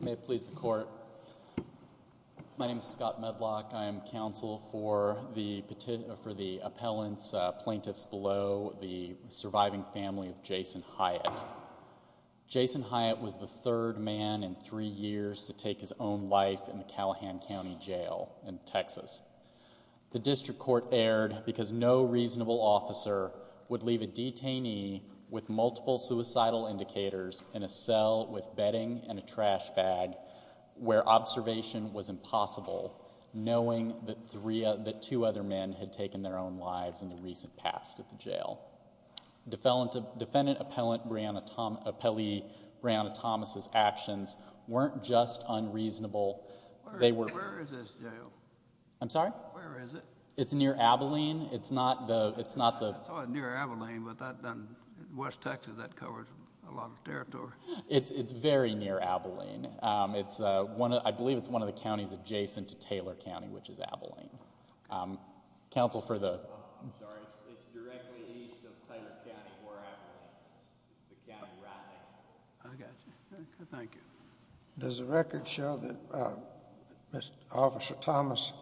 May it please the court, my name is Scott Medlock. I am counsel for the for the appellants plaintiffs below the surviving family of Jason Hyatt. Jason Hyatt was the third man in three years to take his own life in the Callahan County Jail in Texas. The district court erred because no reasonable officer would leave a detainee with multiple suicidal indicators in a cell with bedding and a trash bag where observation was impossible knowing that three of the two other men had taken their own lives in the recent past at the jail. Defendant appellant Brianna Thomas's actions weren't just unreasonable. Where is this jail? I'm sorry? Where is it? It's near Abilene. It's near Abilene, but in West Texas that covers a lot of territory. It's very near Abilene. I believe it's one of the Does the record show that Officer Thomas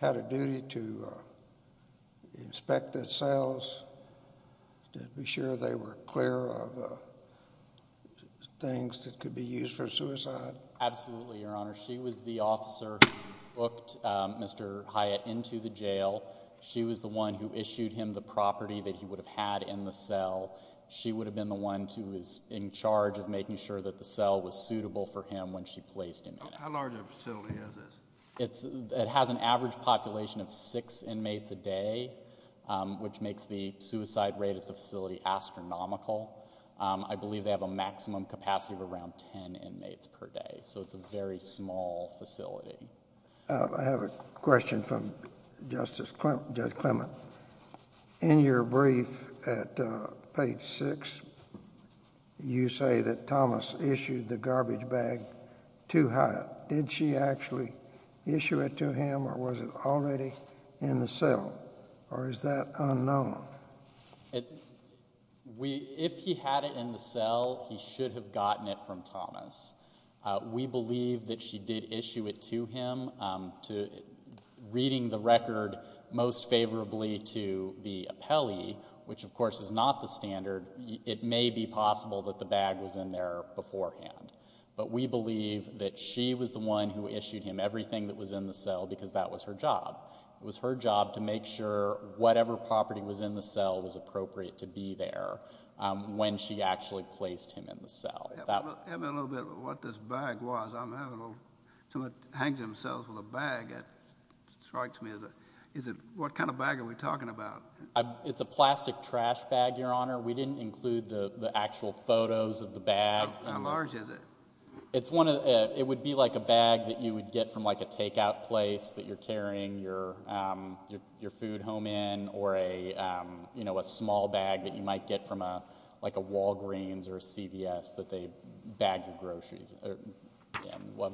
had a duty to inspect the cells to be sure they were clear of things that could be used for suicide? Absolutely, Your Honor. She was the officer who booked Mr. Hyatt into the jail. She was the one who issued him the property that he would have had in the cell. She would have been the one who was in charge of making sure that the cell was suitable for him when she placed him in it. How large of a facility is this? It has an average population of six inmates a day, which makes the suicide rate at the facility astronomical. I believe they have a maximum capacity of around ten inmates per day, so it's a very small facility. I have a question from Justice Clement. In your brief at page six, you say that Thomas issued the garbage bag to Hyatt. Did she actually issue it to him, or was it already in the cell, or is that unknown? If he had it in the cell, he should have gotten it from Thomas. We most favorably to the appellee, which of course is not the standard. It may be possible that the bag was in there beforehand, but we believe that she was the one who issued him everything that was in the cell because that was her job. It was her job to make sure whatever property was in the cell was appropriate to be there when she actually placed him in the cell. Tell me a little bit about what this bag was. Someone hangs themselves with a bag. That strikes me. What kind of bag are we talking about? It's a plastic trash bag, Your Honor. We didn't include the actual photos of the bag. How large is it? It would be like a bag that you would get from like a takeout place that you're carrying your food home in, or a small bag that you might get from like a Walgreens or a CVS that they bag your groceries,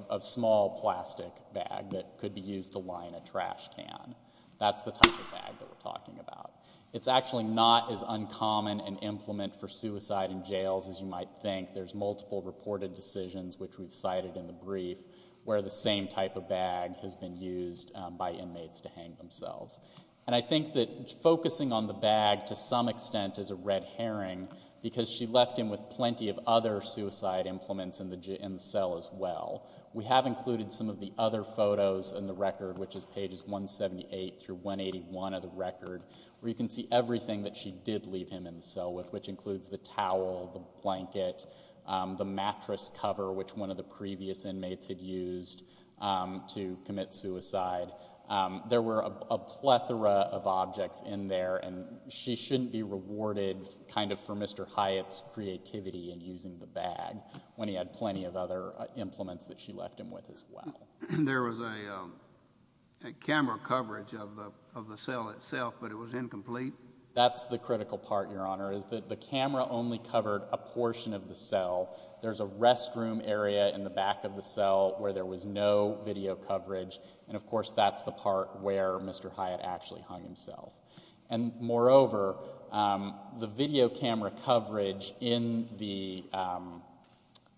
a small plastic bag that could be used to line a trash can. That's the type of bag that we're talking about. It's actually not as uncommon an implement for suicide in jails as you might think. There's multiple reported decisions, which we've cited in the brief, where the same type of bag has been used by inmates to hang themselves. And I think that focusing on the bag to some extent is a red herring, because she left him with plenty of other suicide implements in the cell as well. We have included some of the other photos in the record, which is pages 178 through 181 of the record, where you can see everything that she did leave him in the cell with, which includes the towel, the blanket, the mattress cover, which one of the previous inmates had used to commit suicide. There were a plethora of objects in there, and she shouldn't be rewarded kind of for Mr. Hyatt's creativity in using the bag, when he had plenty of other implements that she left him with as well. There was a camera coverage of the of the cell itself, but it was incomplete? That's the critical part, Your Honor, is that the camera only covered a portion of the cell. There's a restroom area in the back of the cell where there was no video coverage, and of course that's the part where Mr. Hyatt actually hung himself. And moreover, the video camera coverage in the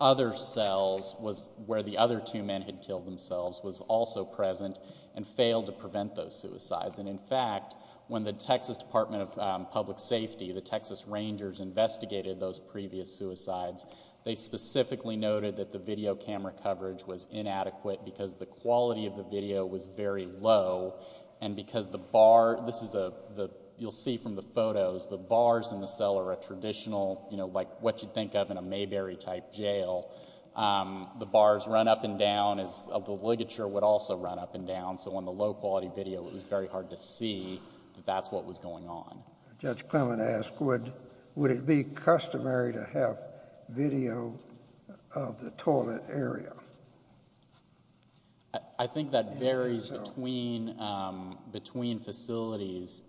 other cells was where the other two men had killed themselves, was also present, and failed to prevent those suicides. And in fact, when the Texas Department of Public Safety, the Texas Rangers, investigated those previous suicides, they specifically noted that the video camera coverage was inadequate, because the quality of the video was very low, and because the bar, this is a, the, you'll see from the photos, the bars in the cell are a traditional, you know, like what you'd think of in a Mayberry type jail. The bars run up and down, as the ligature would also run up and down, so on the low quality video, it was very hard to see that that's what was going on. Judge Clement asked, would, would it be customary to have video of the toilet area? I, I think that varies between, between facilities,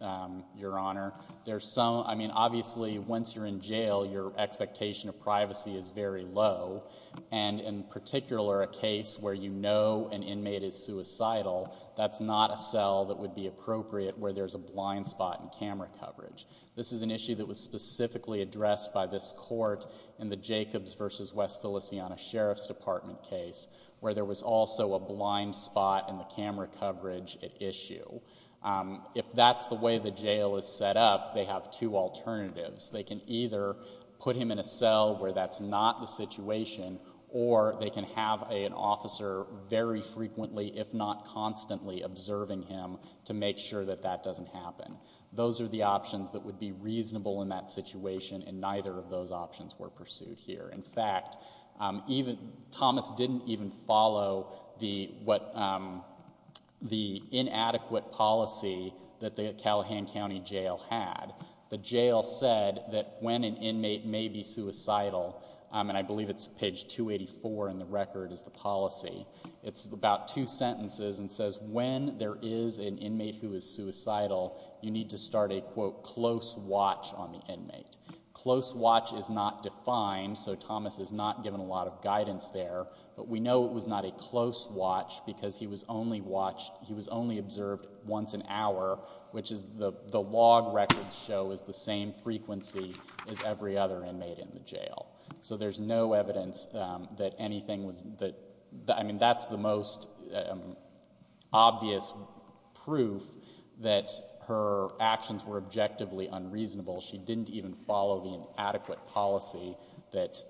Your Honor. There's some, I mean, obviously once you're in jail, your expectation of privacy is very low, and in particular, a case where you know an inmate is suicidal, that's not a cell that would be appropriate where there's a blind spot in camera coverage. This is an issue that was specifically addressed by this court in the Jacobs versus West Philistiana Sheriff's Department case, where there was also a blind spot in the camera coverage at issue. If that's the way the jail is set up, they have two alternatives. They can either put him in a cell where that's not the situation, or they can have a, an officer very frequently, if not constantly, observing him to make sure that that doesn't happen. Those are the options that would be reasonable in that situation, and neither of those options were pursued here. In fact, even, Thomas didn't even follow the, what, the inadequate policy that the Callahan County Jail had. The jail said that when an inmate may be suicidal, and I believe it's page 284 in the record is the policy, it's about two sentences and says when there is an inmate who is suicidal, you need to start a, quote, close watch on the inmate. Close watch is not defined, so Thomas is not given a lot of guidance there, but we know it was not a close watch because he was only watched, he was only observed once an hour, which is the, the log records show is the same frequency as every other inmate in the jail. So there's no evidence that anything was, that, I mean, that's the most obvious proof that her actions were objectively unreasonable. She didn't even follow the inadequate policy that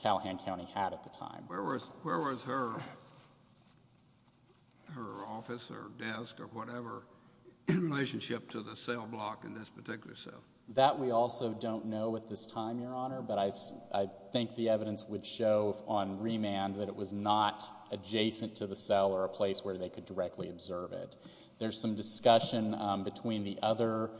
Callahan County had at the time. Where was, where was her, her office or desk or whatever in relationship to the cell block in this particular cell? That we also don't know at this time, Your Honor, but I, I think the evidence would show on remand that it was not adjacent to the cell or a place where they could directly observe it. There's some discussion between the other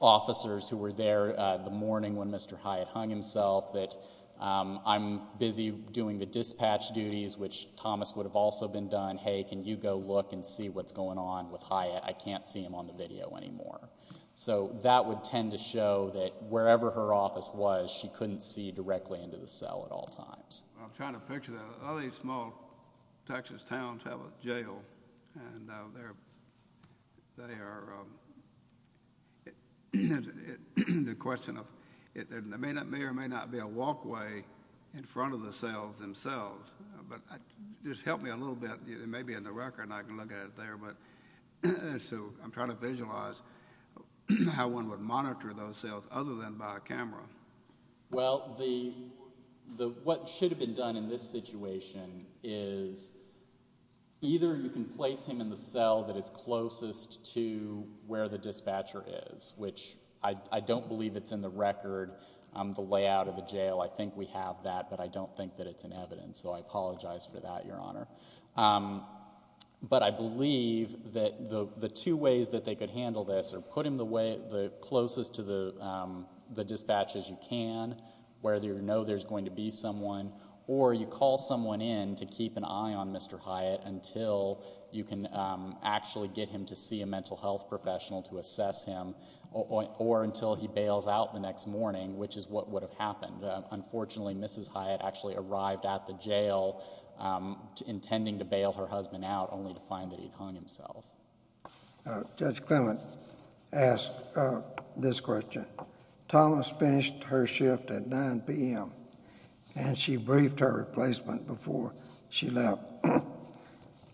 officers who were there the morning when Mr. Hyatt hung himself that I'm busy doing the dispatch duties, which Thomas would have also been done, hey, can you go look and see what's going on with Hyatt? I can't see him on the video anymore. So that would tend to show that wherever her office was, she couldn't see directly into the cell at all times. I'm trying to picture that. A lot of these small Texas towns have a jail and they're, they are, the question of, it may not, may or may not be a walkway in front of the cells themselves, but just help me a little bit. It may be in the record and I can look at it there, but so I'm trying to visualize how one would monitor those cells other than by a camera. Well, the, the, what should have been done in this situation is either you can place him in the cell that is closest to where the dispatcher is, which I, I don't believe it's in the record. The layout of the jail, I think we have that, but I don't think that it's in evidence. So I apologize for that, Your Honor. But I believe that the, the two ways that they could handle this are put him the way, the closest to the, the dispatch as you can, where you know there's going to be someone, or you call someone in to keep an eye on Mr. Hyatt until you can actually get him to see a mental health professional to assess him or, or until he bails out the next morning, which is what would have happened. Unfortunately, Mrs. Hyatt actually arrived at the jail intending to bail her husband out only to find that he'd hung himself. Judge Clement asked this question. Thomas finished her shift at 9 p.m. and she briefed her replacement before she left.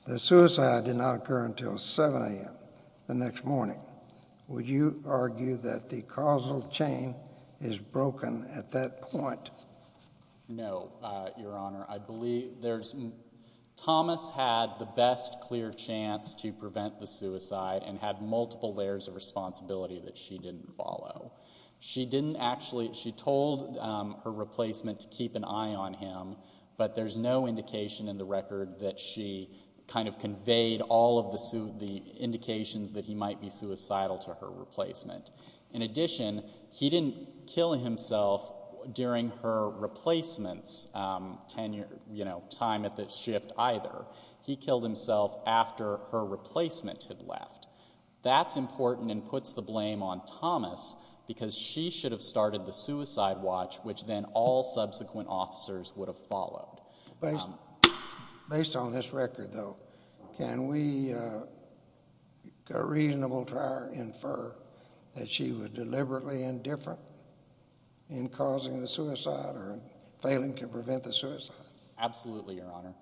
The suicide did not occur until 7 a.m. the next morning. Would you argue that the causal chain is broken at that point? No, Your Honor. I believe there's, Thomas had the best clear chance to prevent the suicide and had multiple layers of responsibility that she didn't follow. She didn't actually, she told her replacement to keep an eye on him, but there's no indication in the record that she kind of conveyed all of the, the indications that he might be suicidal to her replacement. In addition, he didn't kill himself during her replacement's tenure, you know, time at the shift either. He killed himself after her replacement had left. That's important and puts the blame on Thomas, because she should have started the suicide watch, which then all subsequent officers would have followed. Based on this record, though, can we reasonably infer that she was deliberately indifferent in causing the suicide or failing to prevent the suicide? Absolutely, Your Honor.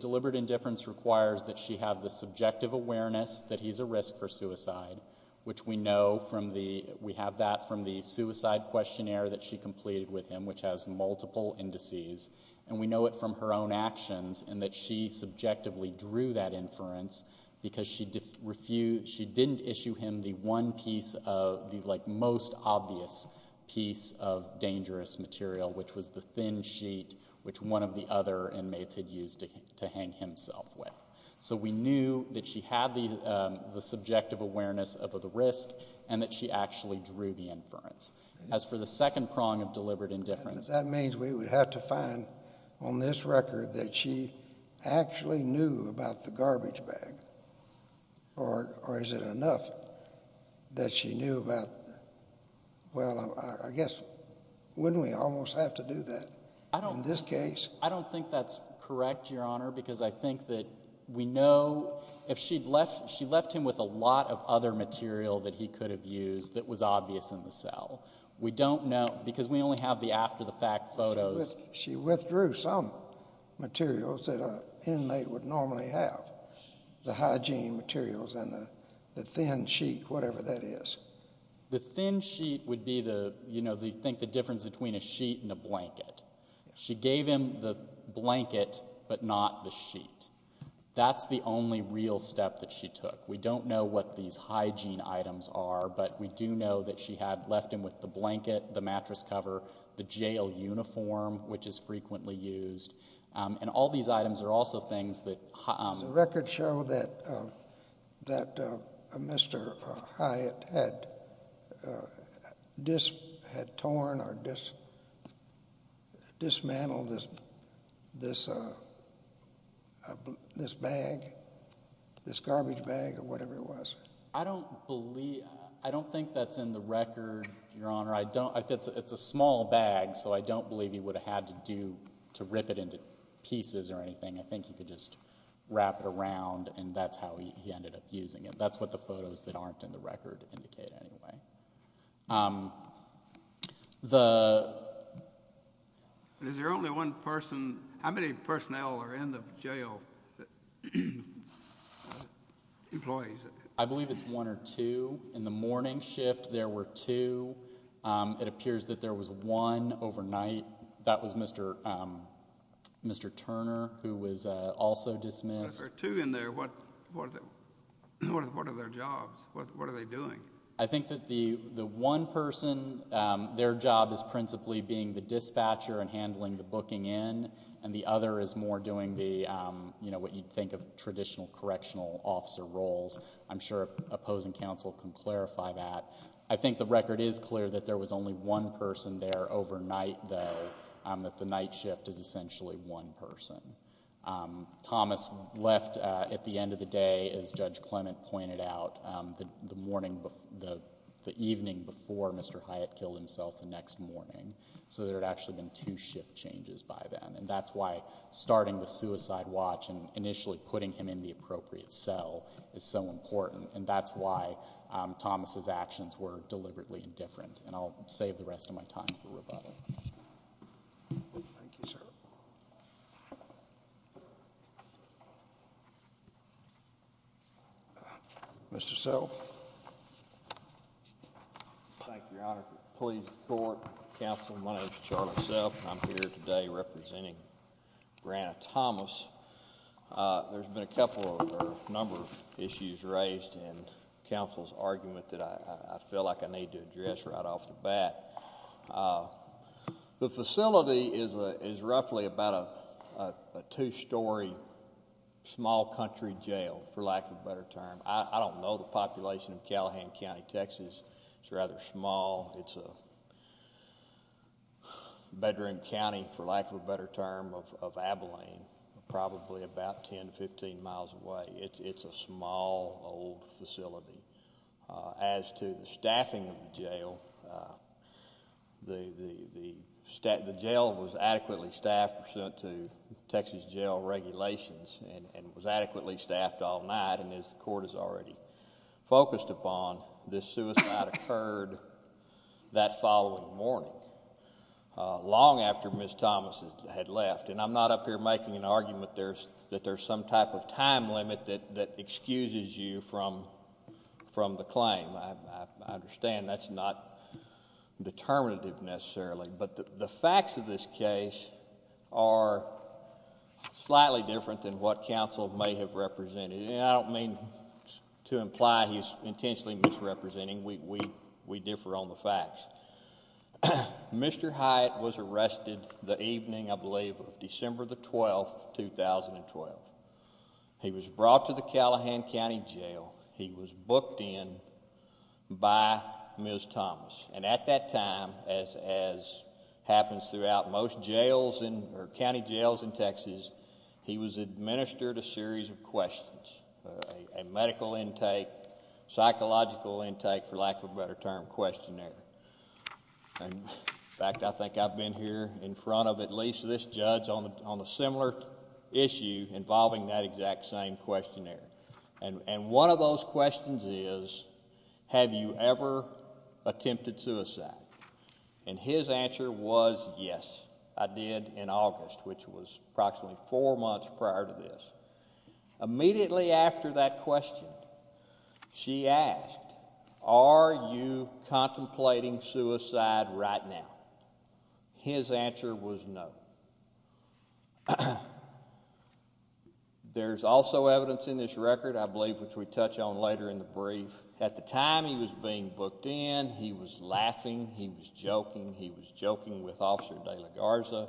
Deliberate indifference requires that she have the subjective awareness that he's a risk for suicide, which we know from the, we have that from the suicide questionnaire that she completed with him, which has multiple indices, and we know it from her own actions and that she subjectively drew that inference because she refused, she didn't issue him the one piece of, the, like, most obvious piece of dangerous material, which was the thin sheet, which one of the other inmates had used to hang himself with. So we knew that she had the subjective awareness of the risk and that she actually drew the inference. As for the second prong of deliberate indifference. That means we would have to find on this record that she actually knew about the Well, I guess, wouldn't we almost have to do that in this case? I don't think that's correct, Your Honor, because I think that we know, if she'd left, she left him with a lot of other material that he could have used that was obvious in the cell. We don't know, because we only have the after the fact photos. She withdrew some materials that an inmate would normally have. The hygiene materials and the thin sheet, whatever that is. The thin sheet would be the, you know, they think the difference between a sheet and a blanket. She gave him the blanket, but not the sheet. That's the only real step that she took. We don't know what these hygiene items are, but we do know that she had left him with the blanket, the mattress cover, the jail uniform, which is frequently used. And all these items are also things that The records show that Mr. Hyatt had torn or dismantled this bag, this garbage bag or whatever it was. I don't believe, I don't think that's in the record, Your Honor. It's a small bag, so I don't believe he would have had to rip it into pieces or anything. I think he could just wrap it around and that's how he ended up using it. That's what the photos that aren't in the record indicate, anyway. Is there only one person, how many personnel are in the jail? Employees? I believe it's one or two. In the morning shift, there were two. It appears that there was one overnight. That was Mr. Turner, who was also dismissed. If there are two in there, what are their jobs? What are they doing? I think that the one person, their job is principally being the dispatcher and handling the booking in, and the other is more doing what you'd think of traditional correctional officer roles. I'm sure opposing counsel can clarify that. I think the record is clear that there was only one person there overnight, though, that the night shift is essentially one person. Thomas left at the end of the day, as Judge Clement pointed out, the evening before Mr. Hyatt killed himself the next morning, so there had actually been two shift changes by then. That's why starting the suicide watch and initially putting him in the appropriate cell is so important, and that's why Thomas' actions were deliberately indifferent, and I'll save the rest of my time for rebuttal. Thank you, sir. Mr. Self? Thank you, Your Honor. Police, court, counsel, my name is Charlotte Self, and I'm here today representing Breanna Thomas. There's been a couple or a couple of issues raised in counsel's argument that I feel like I need to address right off the bat. The facility is roughly about a two-story small country jail, for lack of a better term. I don't know the population of Callahan County, Texas. It's rather small. It's a bedroom county, for lack of a better term, of Abilene, probably about 10 to 15 miles away. It's a small old facility. As to the staffing of the jail, the jail was adequately staffed pursuant to Texas jail regulations and was adequately staffed all night, and as the court has already focused upon, this suicide occurred that following morning, long after Ms. Thomas had left, and I'm not up here making an excuse to dismiss you from the claim. I understand that's not determinative necessarily, but the facts of this case are slightly different than what counsel may have represented, and I don't mean to imply he's intentionally misrepresenting. We differ on the facts. Mr. Hyatt was arrested the evening, I believe. He was brought to the Callahan County Jail. He was booked in by Ms. Thomas, and at that time, as happens throughout most jails or county jails in Texas, he was administered a series of questions, a medical intake, psychological intake, for lack of a better term, questionnaire. In fact, I think I've been here in front of at least this judge on a similar issue involving that exact same questionnaire, and one of those questions is, have you ever attempted suicide? And his answer was, yes, I did in August, which was approximately four months prior to this. Immediately after that question, she asked, are you contemplating suicide right now? His answer was no. There's also evidence in this record, I believe, which we touch on later in the brief. At the time he was being booked in, he was laughing, he was joking, he was joking with Officer De La Garza,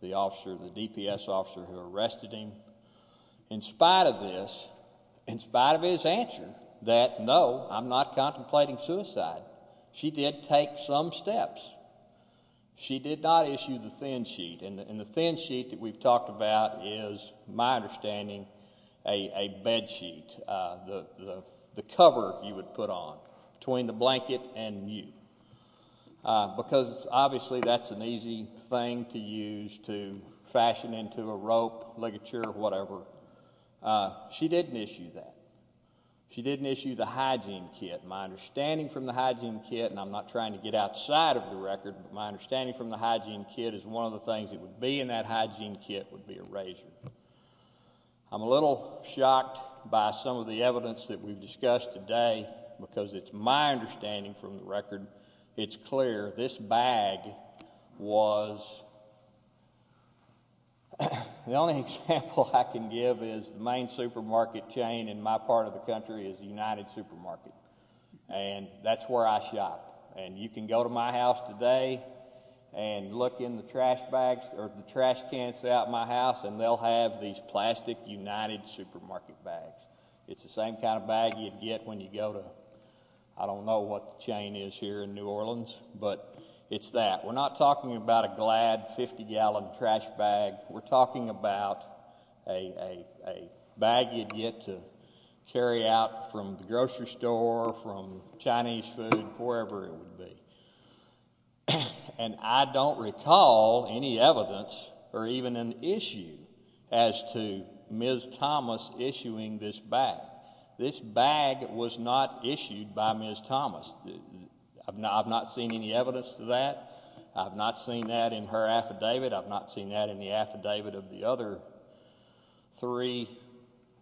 the DPS officer who arrested him. In spite of this, in his response, he said, no, I'm not contemplating suicide. She did take some steps. She did not issue the thin sheet, and the thin sheet that we've talked about is, my understanding, a bed sheet, the cover you would put on between the blanket and you, because obviously that's an easy thing to use to fashion into a hygiene kit. My understanding from the hygiene kit, and I'm not trying to get outside of the record, but my understanding from the hygiene kit is one of the things that would be in that hygiene kit would be a razor. I'm a little shocked by some of the evidence that we've discussed today, because it's my understanding from the record, it's clear this bag was, the only example I can give is the main supermarket, and that's where I shop, and you can go to my house today and look in the trash bags, or the trash cans out in my house, and they'll have these plastic United Supermarket bags. It's the same kind of bag you'd get when you go to, I don't know what the chain is here in New Orleans, but it's that. We're not talking about a glad 50-gallon trash bag. We're talking about a bag you'd get to from the grocery store, from Chinese food, wherever it would be, and I don't recall any evidence or even an issue as to Ms. Thomas issuing this bag. This bag was not issued by Ms. Thomas. I've not seen any evidence to that. I've not seen that in her affidavit. I've not seen that in the affidavit of the other three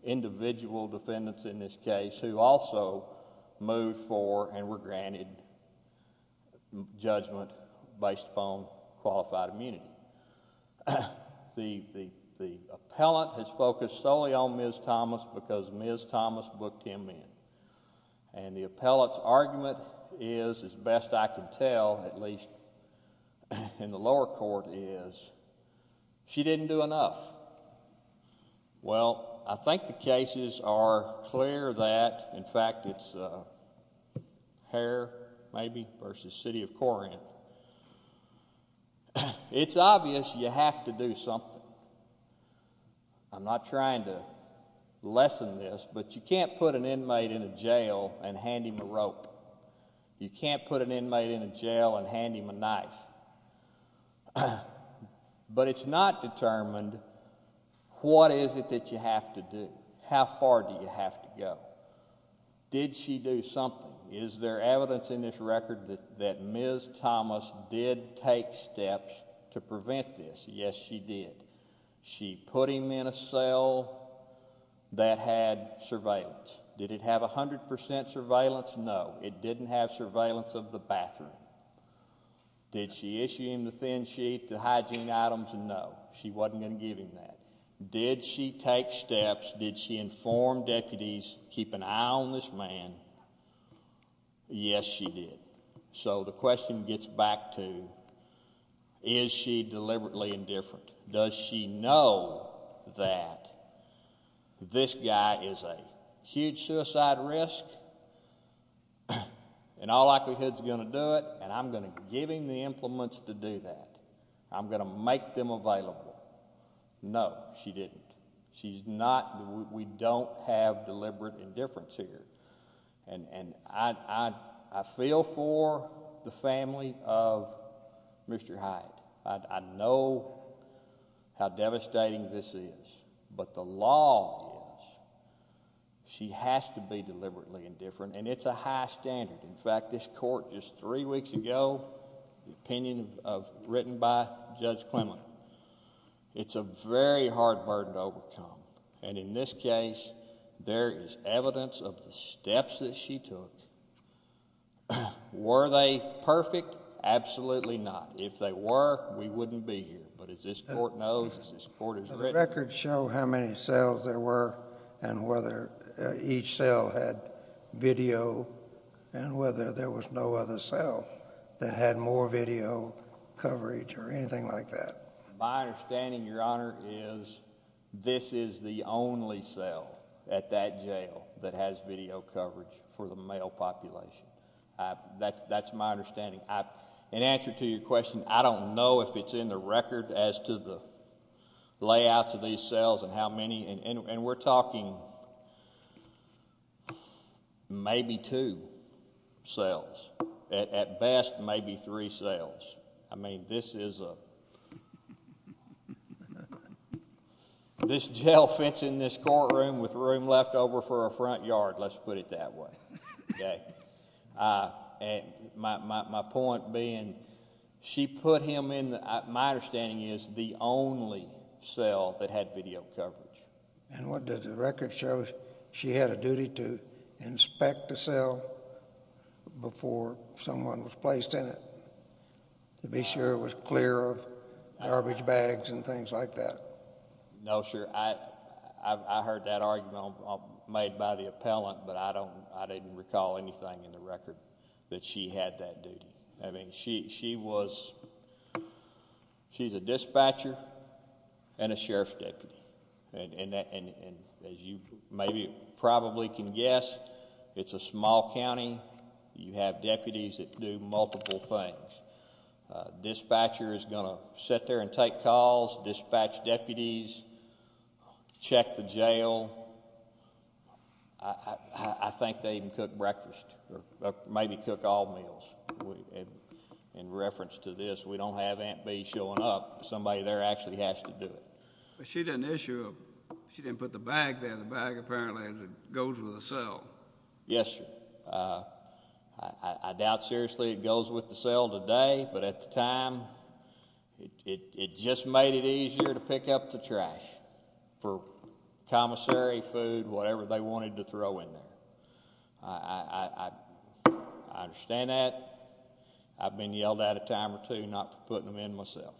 individual defendants in this case who also moved for and were granted judgment based upon qualified immunity. The appellant has focused solely on Ms. Thomas because Ms. Thomas booked him in, and the appellant's argument is, as best I can I think the cases are clear that, in fact, it's Hare maybe versus City of Corinth. It's obvious you have to do something. I'm not trying to lessen this, but you can't put an inmate in a jail and hand him a rope. You can't put an inmate in a jail and how far do you have to go? Did she do something? Is there evidence in this record that Ms. Thomas did take steps to prevent this? Yes, she did. She put him in a cell that had surveillance. Did it have 100% surveillance? No, it didn't have surveillance of the bathroom. Did she issue him the thin sheet, the hygiene items? No, she wasn't going to give him that. Did she take steps? Did she inform deputies, keep an eye on this man? Yes, she did. So the question gets back to, is she deliberately indifferent? Does she know that this guy is a huge suicide risk and all likelihood is going to do it and I'm going to give him the implements to do that. I'm going to make them available. No, she didn't. We don't have deliberate indifference here. I feel for the family of Mr. Hyde. I know how devastating this is, but the law is she has to be deliberately indifferent and it's a high standard. In fact, this court just three weeks ago, the opinion written by Judge Clement, it's a very hard burden to overcome and in this case, there is evidence of the steps that she took. Were they perfect? Absolutely not. If they were, we wouldn't be here, but as this court knows, as this each cell had video and whether there was no other cell that had more video coverage or anything like that. My understanding, your honor, is this is the only cell at that jail that has video coverage for the male population. That's my understanding. In answer to your question, I don't know if it's in the record as to the layouts of these cells and how many and we're talking maybe two cells. At best, maybe three cells. I mean, this jail fits in this courtroom with room left over for a front yard. Let's put it that way. My point being, she put him in, my understanding is, the only cell that had video coverage. And what does the record show? She had a duty to inspect the cell before someone was placed in it to be sure it was clear of garbage bags and things like that? No, sir. I heard that argument made by the appellant, but I didn't recall anything in the record that she had that duty. I mean, she was, she's a dispatcher and a sheriff's deputy. And as you maybe probably can guess, it's a small county. You have deputies that do multiple things. Dispatcher is going to sit there and take calls, dispatch deputies, check the jail. I think they even cook breakfast or maybe cook all meals. In reference to this, we don't have Aunt Bea showing up. Somebody there actually has to do it. But she didn't issue, she didn't put the bag there. The bag apparently goes with the cell. Yes, sir. I doubt seriously it goes with the cell today, but at the time, it just made it easier to pick up the trash for commissary food, whatever they wanted to throw in there. I understand that. I've been yelled at a time or two not for putting them in myself.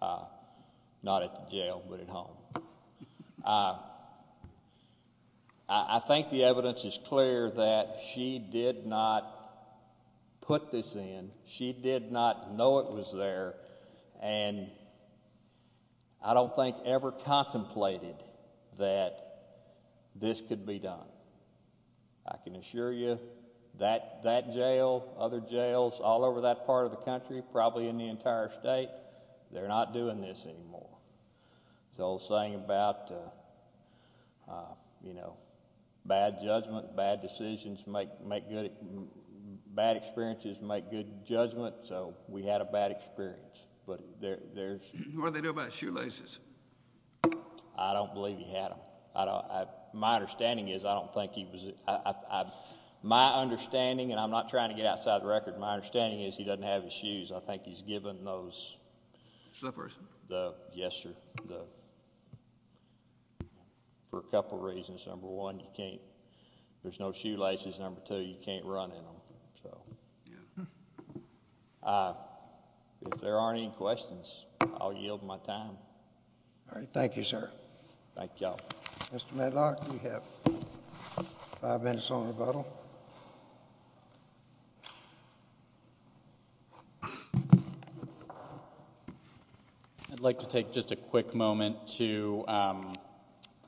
Not at the jail, but at home. I think the evidence is clear that she did not put this in. She did not know it was there. And I don't think ever contemplated that this could be done. I can assure you that jail, other jails all over that part of the country, probably in the entire state, they're not doing this anymore. So saying about, you know, bad judgment, bad decisions, bad experiences make good judgment. So we had a bad experience. What do they do about shoelaces? I don't believe he had them. My understanding is, I don't think he was, my understanding, and I'm not trying to get outside the record, my understanding is he doesn't have his shoes. I think he's given those. Slippers? Yes, sir. For a couple reasons. Number one, you can't, there's no shoelaces. Number two, you can't run in them. If there aren't any questions, I'll yield my time. All right. Thank you, sir. Thank y'all. Mr. Medlock, you have five minutes on rebuttal. I'd like to take just a quick moment to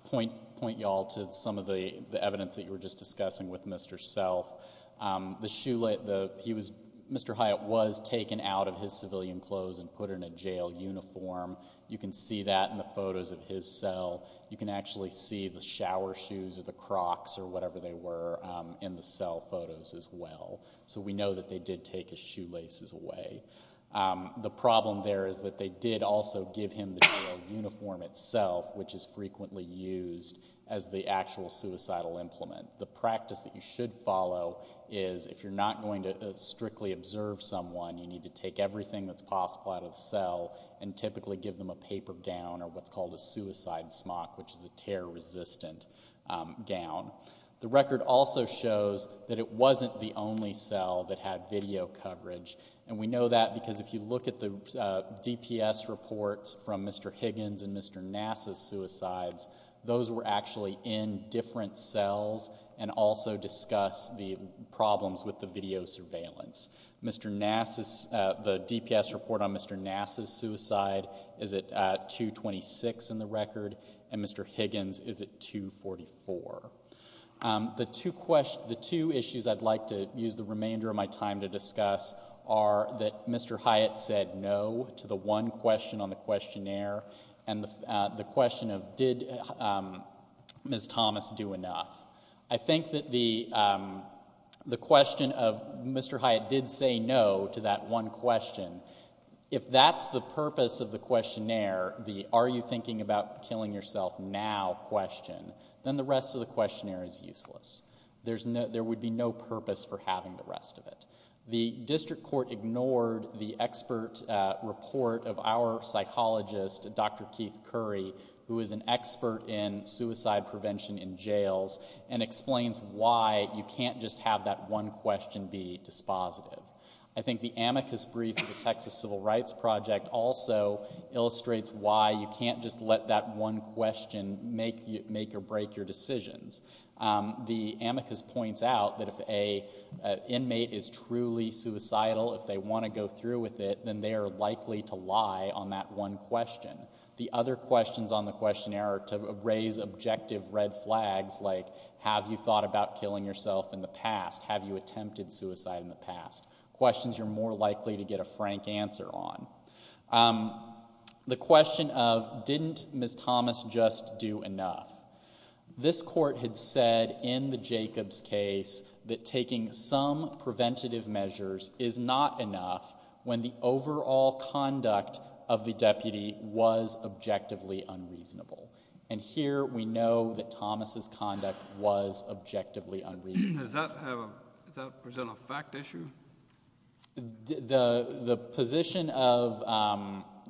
point y'all to some of the evidence that you were just discussing with Mr. Self. The shoelace, he was, Mr. Hyatt was taken out of his civilian clothes and put in a jail uniform. You can see that in the photos of his cell. You can actually see the shower shoes or the Crocs or whatever they were in the cell photos as well. So we know that they did take his shoelaces away. The problem there is that they did also give him the uniform itself, which is frequently used as the actual suicidal implement. The practice that you should follow is if you're not going to strictly observe someone, you need to take everything that's possible out of the cell and typically give them a paper gown or what's called a suicide smock, which is a tear-resistant gown. The record also shows that it wasn't the only cell that had video coverage. And we know that because if you look at the DPS reports from Mr. Higgins and Mr. Nass's suicides, those were actually in different cells and also discuss the problems with the video surveillance. Mr. Nass's, the DPS report on Mr. Nass's suicide is at 226 in the record and Mr. Higgins' is at 244. The two issues I'd like to use the remainder of my time to discuss are that Mr. Hyatt said no to the one question on the questionnaire and the question of did Ms. Thomas do enough. I think that the question of Mr. Hyatt did say no to that one question, if that's the question, then the rest of the questionnaire is useless. There would be no purpose for having the rest of it. The district court ignored the expert report of our psychologist, Dr. Keith Curry, who is an expert in suicide prevention in jails and explains why you can't just have that one question be dispositive. I think the amicus brief of the Texas Civil Rights Project also illustrates why you can't just let that one question make or break your decisions. The amicus points out that if an inmate is truly suicidal, if they want to go through with it, then they are likely to lie on that one question. The other questions on the questionnaire are to raise objective red flags like have you thought about killing yourself in the past, have you attempted suicide in the past, questions you're more likely to get a frank answer on. The question of didn't Ms. Thomas just do enough. This court had said in the Jacobs case that taking some preventative measures is not enough when the overall conduct of the deputy was objectively unreasonable. And here we know that Thomas' conduct was objectively unreasonable. Does that present a fact issue? The position of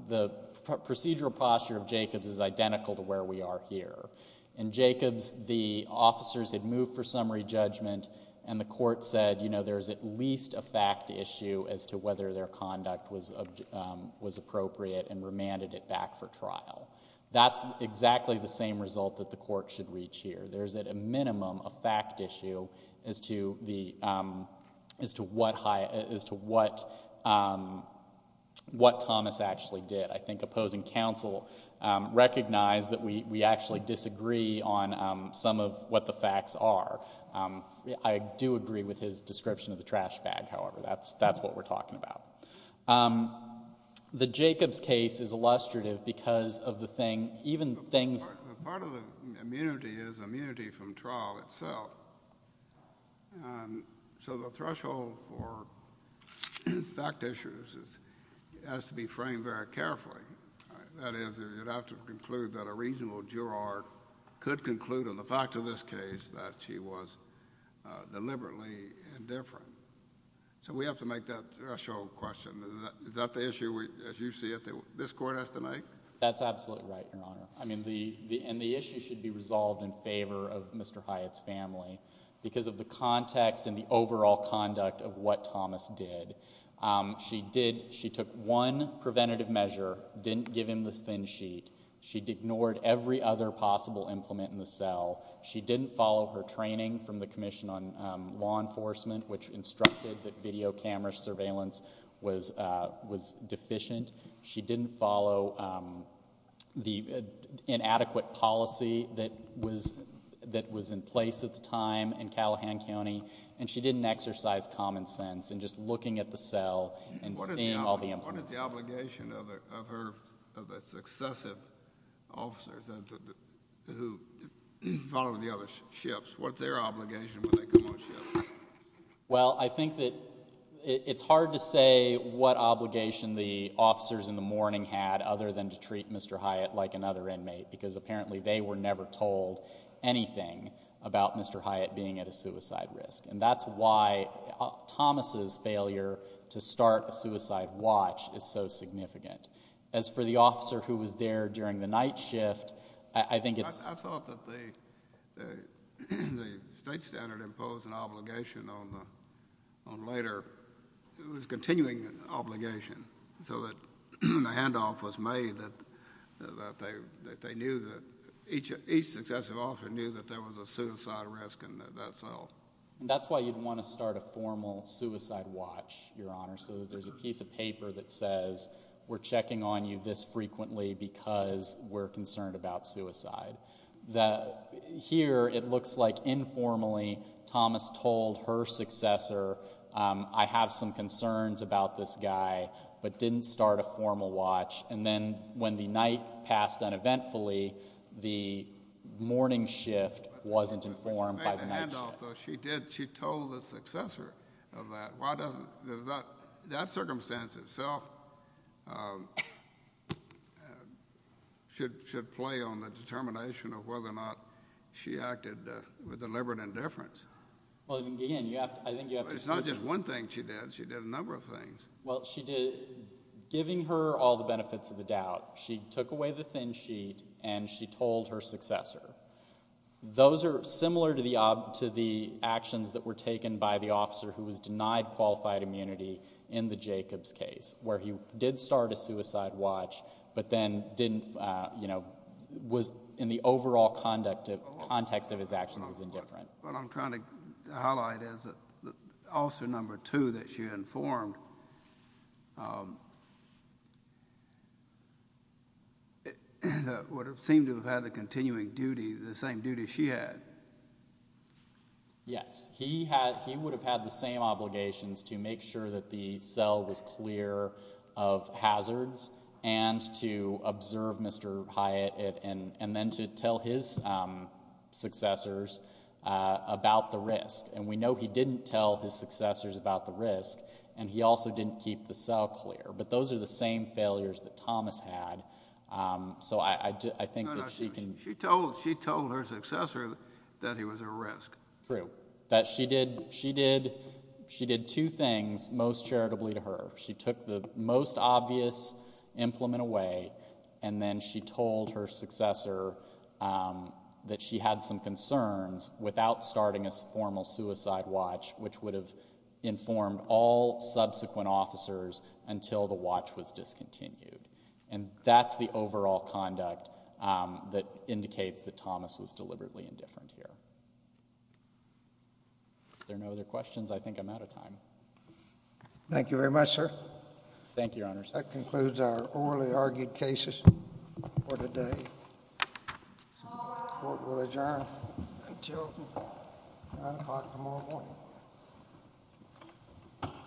the procedural posture of Jacobs is identical to where we are here. In Jacobs, the officers had moved for summary judgment and the court said, you know, there's at least a fact issue as to whether their conduct was appropriate and remanded it back for trial. That's exactly the same result that the court should reach here. There's at a minimum a fact issue as to what Thomas actually did. I think opposing counsel recognized that we actually disagree on some of what the facts are. I do agree with his description of the trash bag, however. That's what we're talking about. The Jacobs case is illustrative because of the thing, even things... But part of the immunity is immunity from trial itself. So the threshold for fact issues has to be framed very carefully. That is, you'd have to conclude that a reasonable juror could conclude on the fact of this case that she was deliberately indifferent. So we have to make that threshold question. Is that the issue, as you see it, that this court has to make? That's absolutely right, Your Honor. I mean, the issue should be resolved in favor of Mr. Hyatt's family because of the context and the overall conduct of what Thomas did. She took one preventative measure, didn't give him the thin sheet. She ignored every other possible implement in the cell. She didn't follow her training from the Commission on Law Enforcement, which instructed that video camera surveillance was deficient. She didn't follow the inadequate policy that was in place at the time in Callahan County, and she didn't exercise common sense in just looking at the cell and seeing all the... What is the obligation of the successive officers who follow the other shifts? What's their obligation when they come on shift? Well, I think that it's hard to say what obligation the officers in the morning had other than to treat Mr. Hyatt like another inmate because apparently they were never told anything about Mr. Hyatt being at a suicide risk. And that's why Thomas's failure to start a suicide watch is so significant. As for the officer who was there during the night shift, I think it's... I thought that the state standard imposed an obligation on the... on later... it was a continuing obligation, so that when the handoff was made, that they knew that each successive officer knew that there was a suicide risk in that cell. And that's why you'd want to start a formal suicide watch, Your Honor, so that there's a piece of paper that says, we're checking on you this frequently because we're concerned about suicide. Here, it looks like informally Thomas told her successor, I have some concerns about this guy, but didn't start a formal watch. And then when the night passed uneventfully, the morning shift wasn't informed by the night shift. But she made the handoff, though. She did. She told the successor of that. Why doesn't That circumstance itself should play on the determination of whether or not she acted with deliberate indifference. Well, again, I think you have to... But it's not just one thing she did. She did a number of things. Well, she did... giving her all the benefits of the doubt, she took away the thin sheet and she told her successor. Those are similar to the actions that were taken by the officer who was denied qualified immunity in the Jacobs case, where he did start a suicide watch, but then didn't... was in the overall context of his actions was indifferent. What I'm trying to highlight is that officer number two that she informed would have seemed to have had the continuing duty, the same duty she had. Yes. He would have had the same obligations to make sure that the cell was clear of hazards and to observe Mr. Hyatt and then to tell his successors about the risk. And we know he didn't tell his successors about the risk, and he also didn't keep the cell clear. But those are the same failures that Thomas had. So I think that she can... She told her successor that he was at risk. True. She did two things most charitably to her. She took the most obvious implement away and then she told her successor that she had some concerns without starting a formal suicide watch, which would have informed all subsequent officers until the watch was discontinued. And that's the overall conduct that indicates that Thomas was deliberately indifferent here. If there are no other questions, I think I'm out of time. Thank you very much, sir. Thank you, Your Honors. That concludes our orally argued cases for today. Court will adjourn until 9 o'clock tomorrow morning.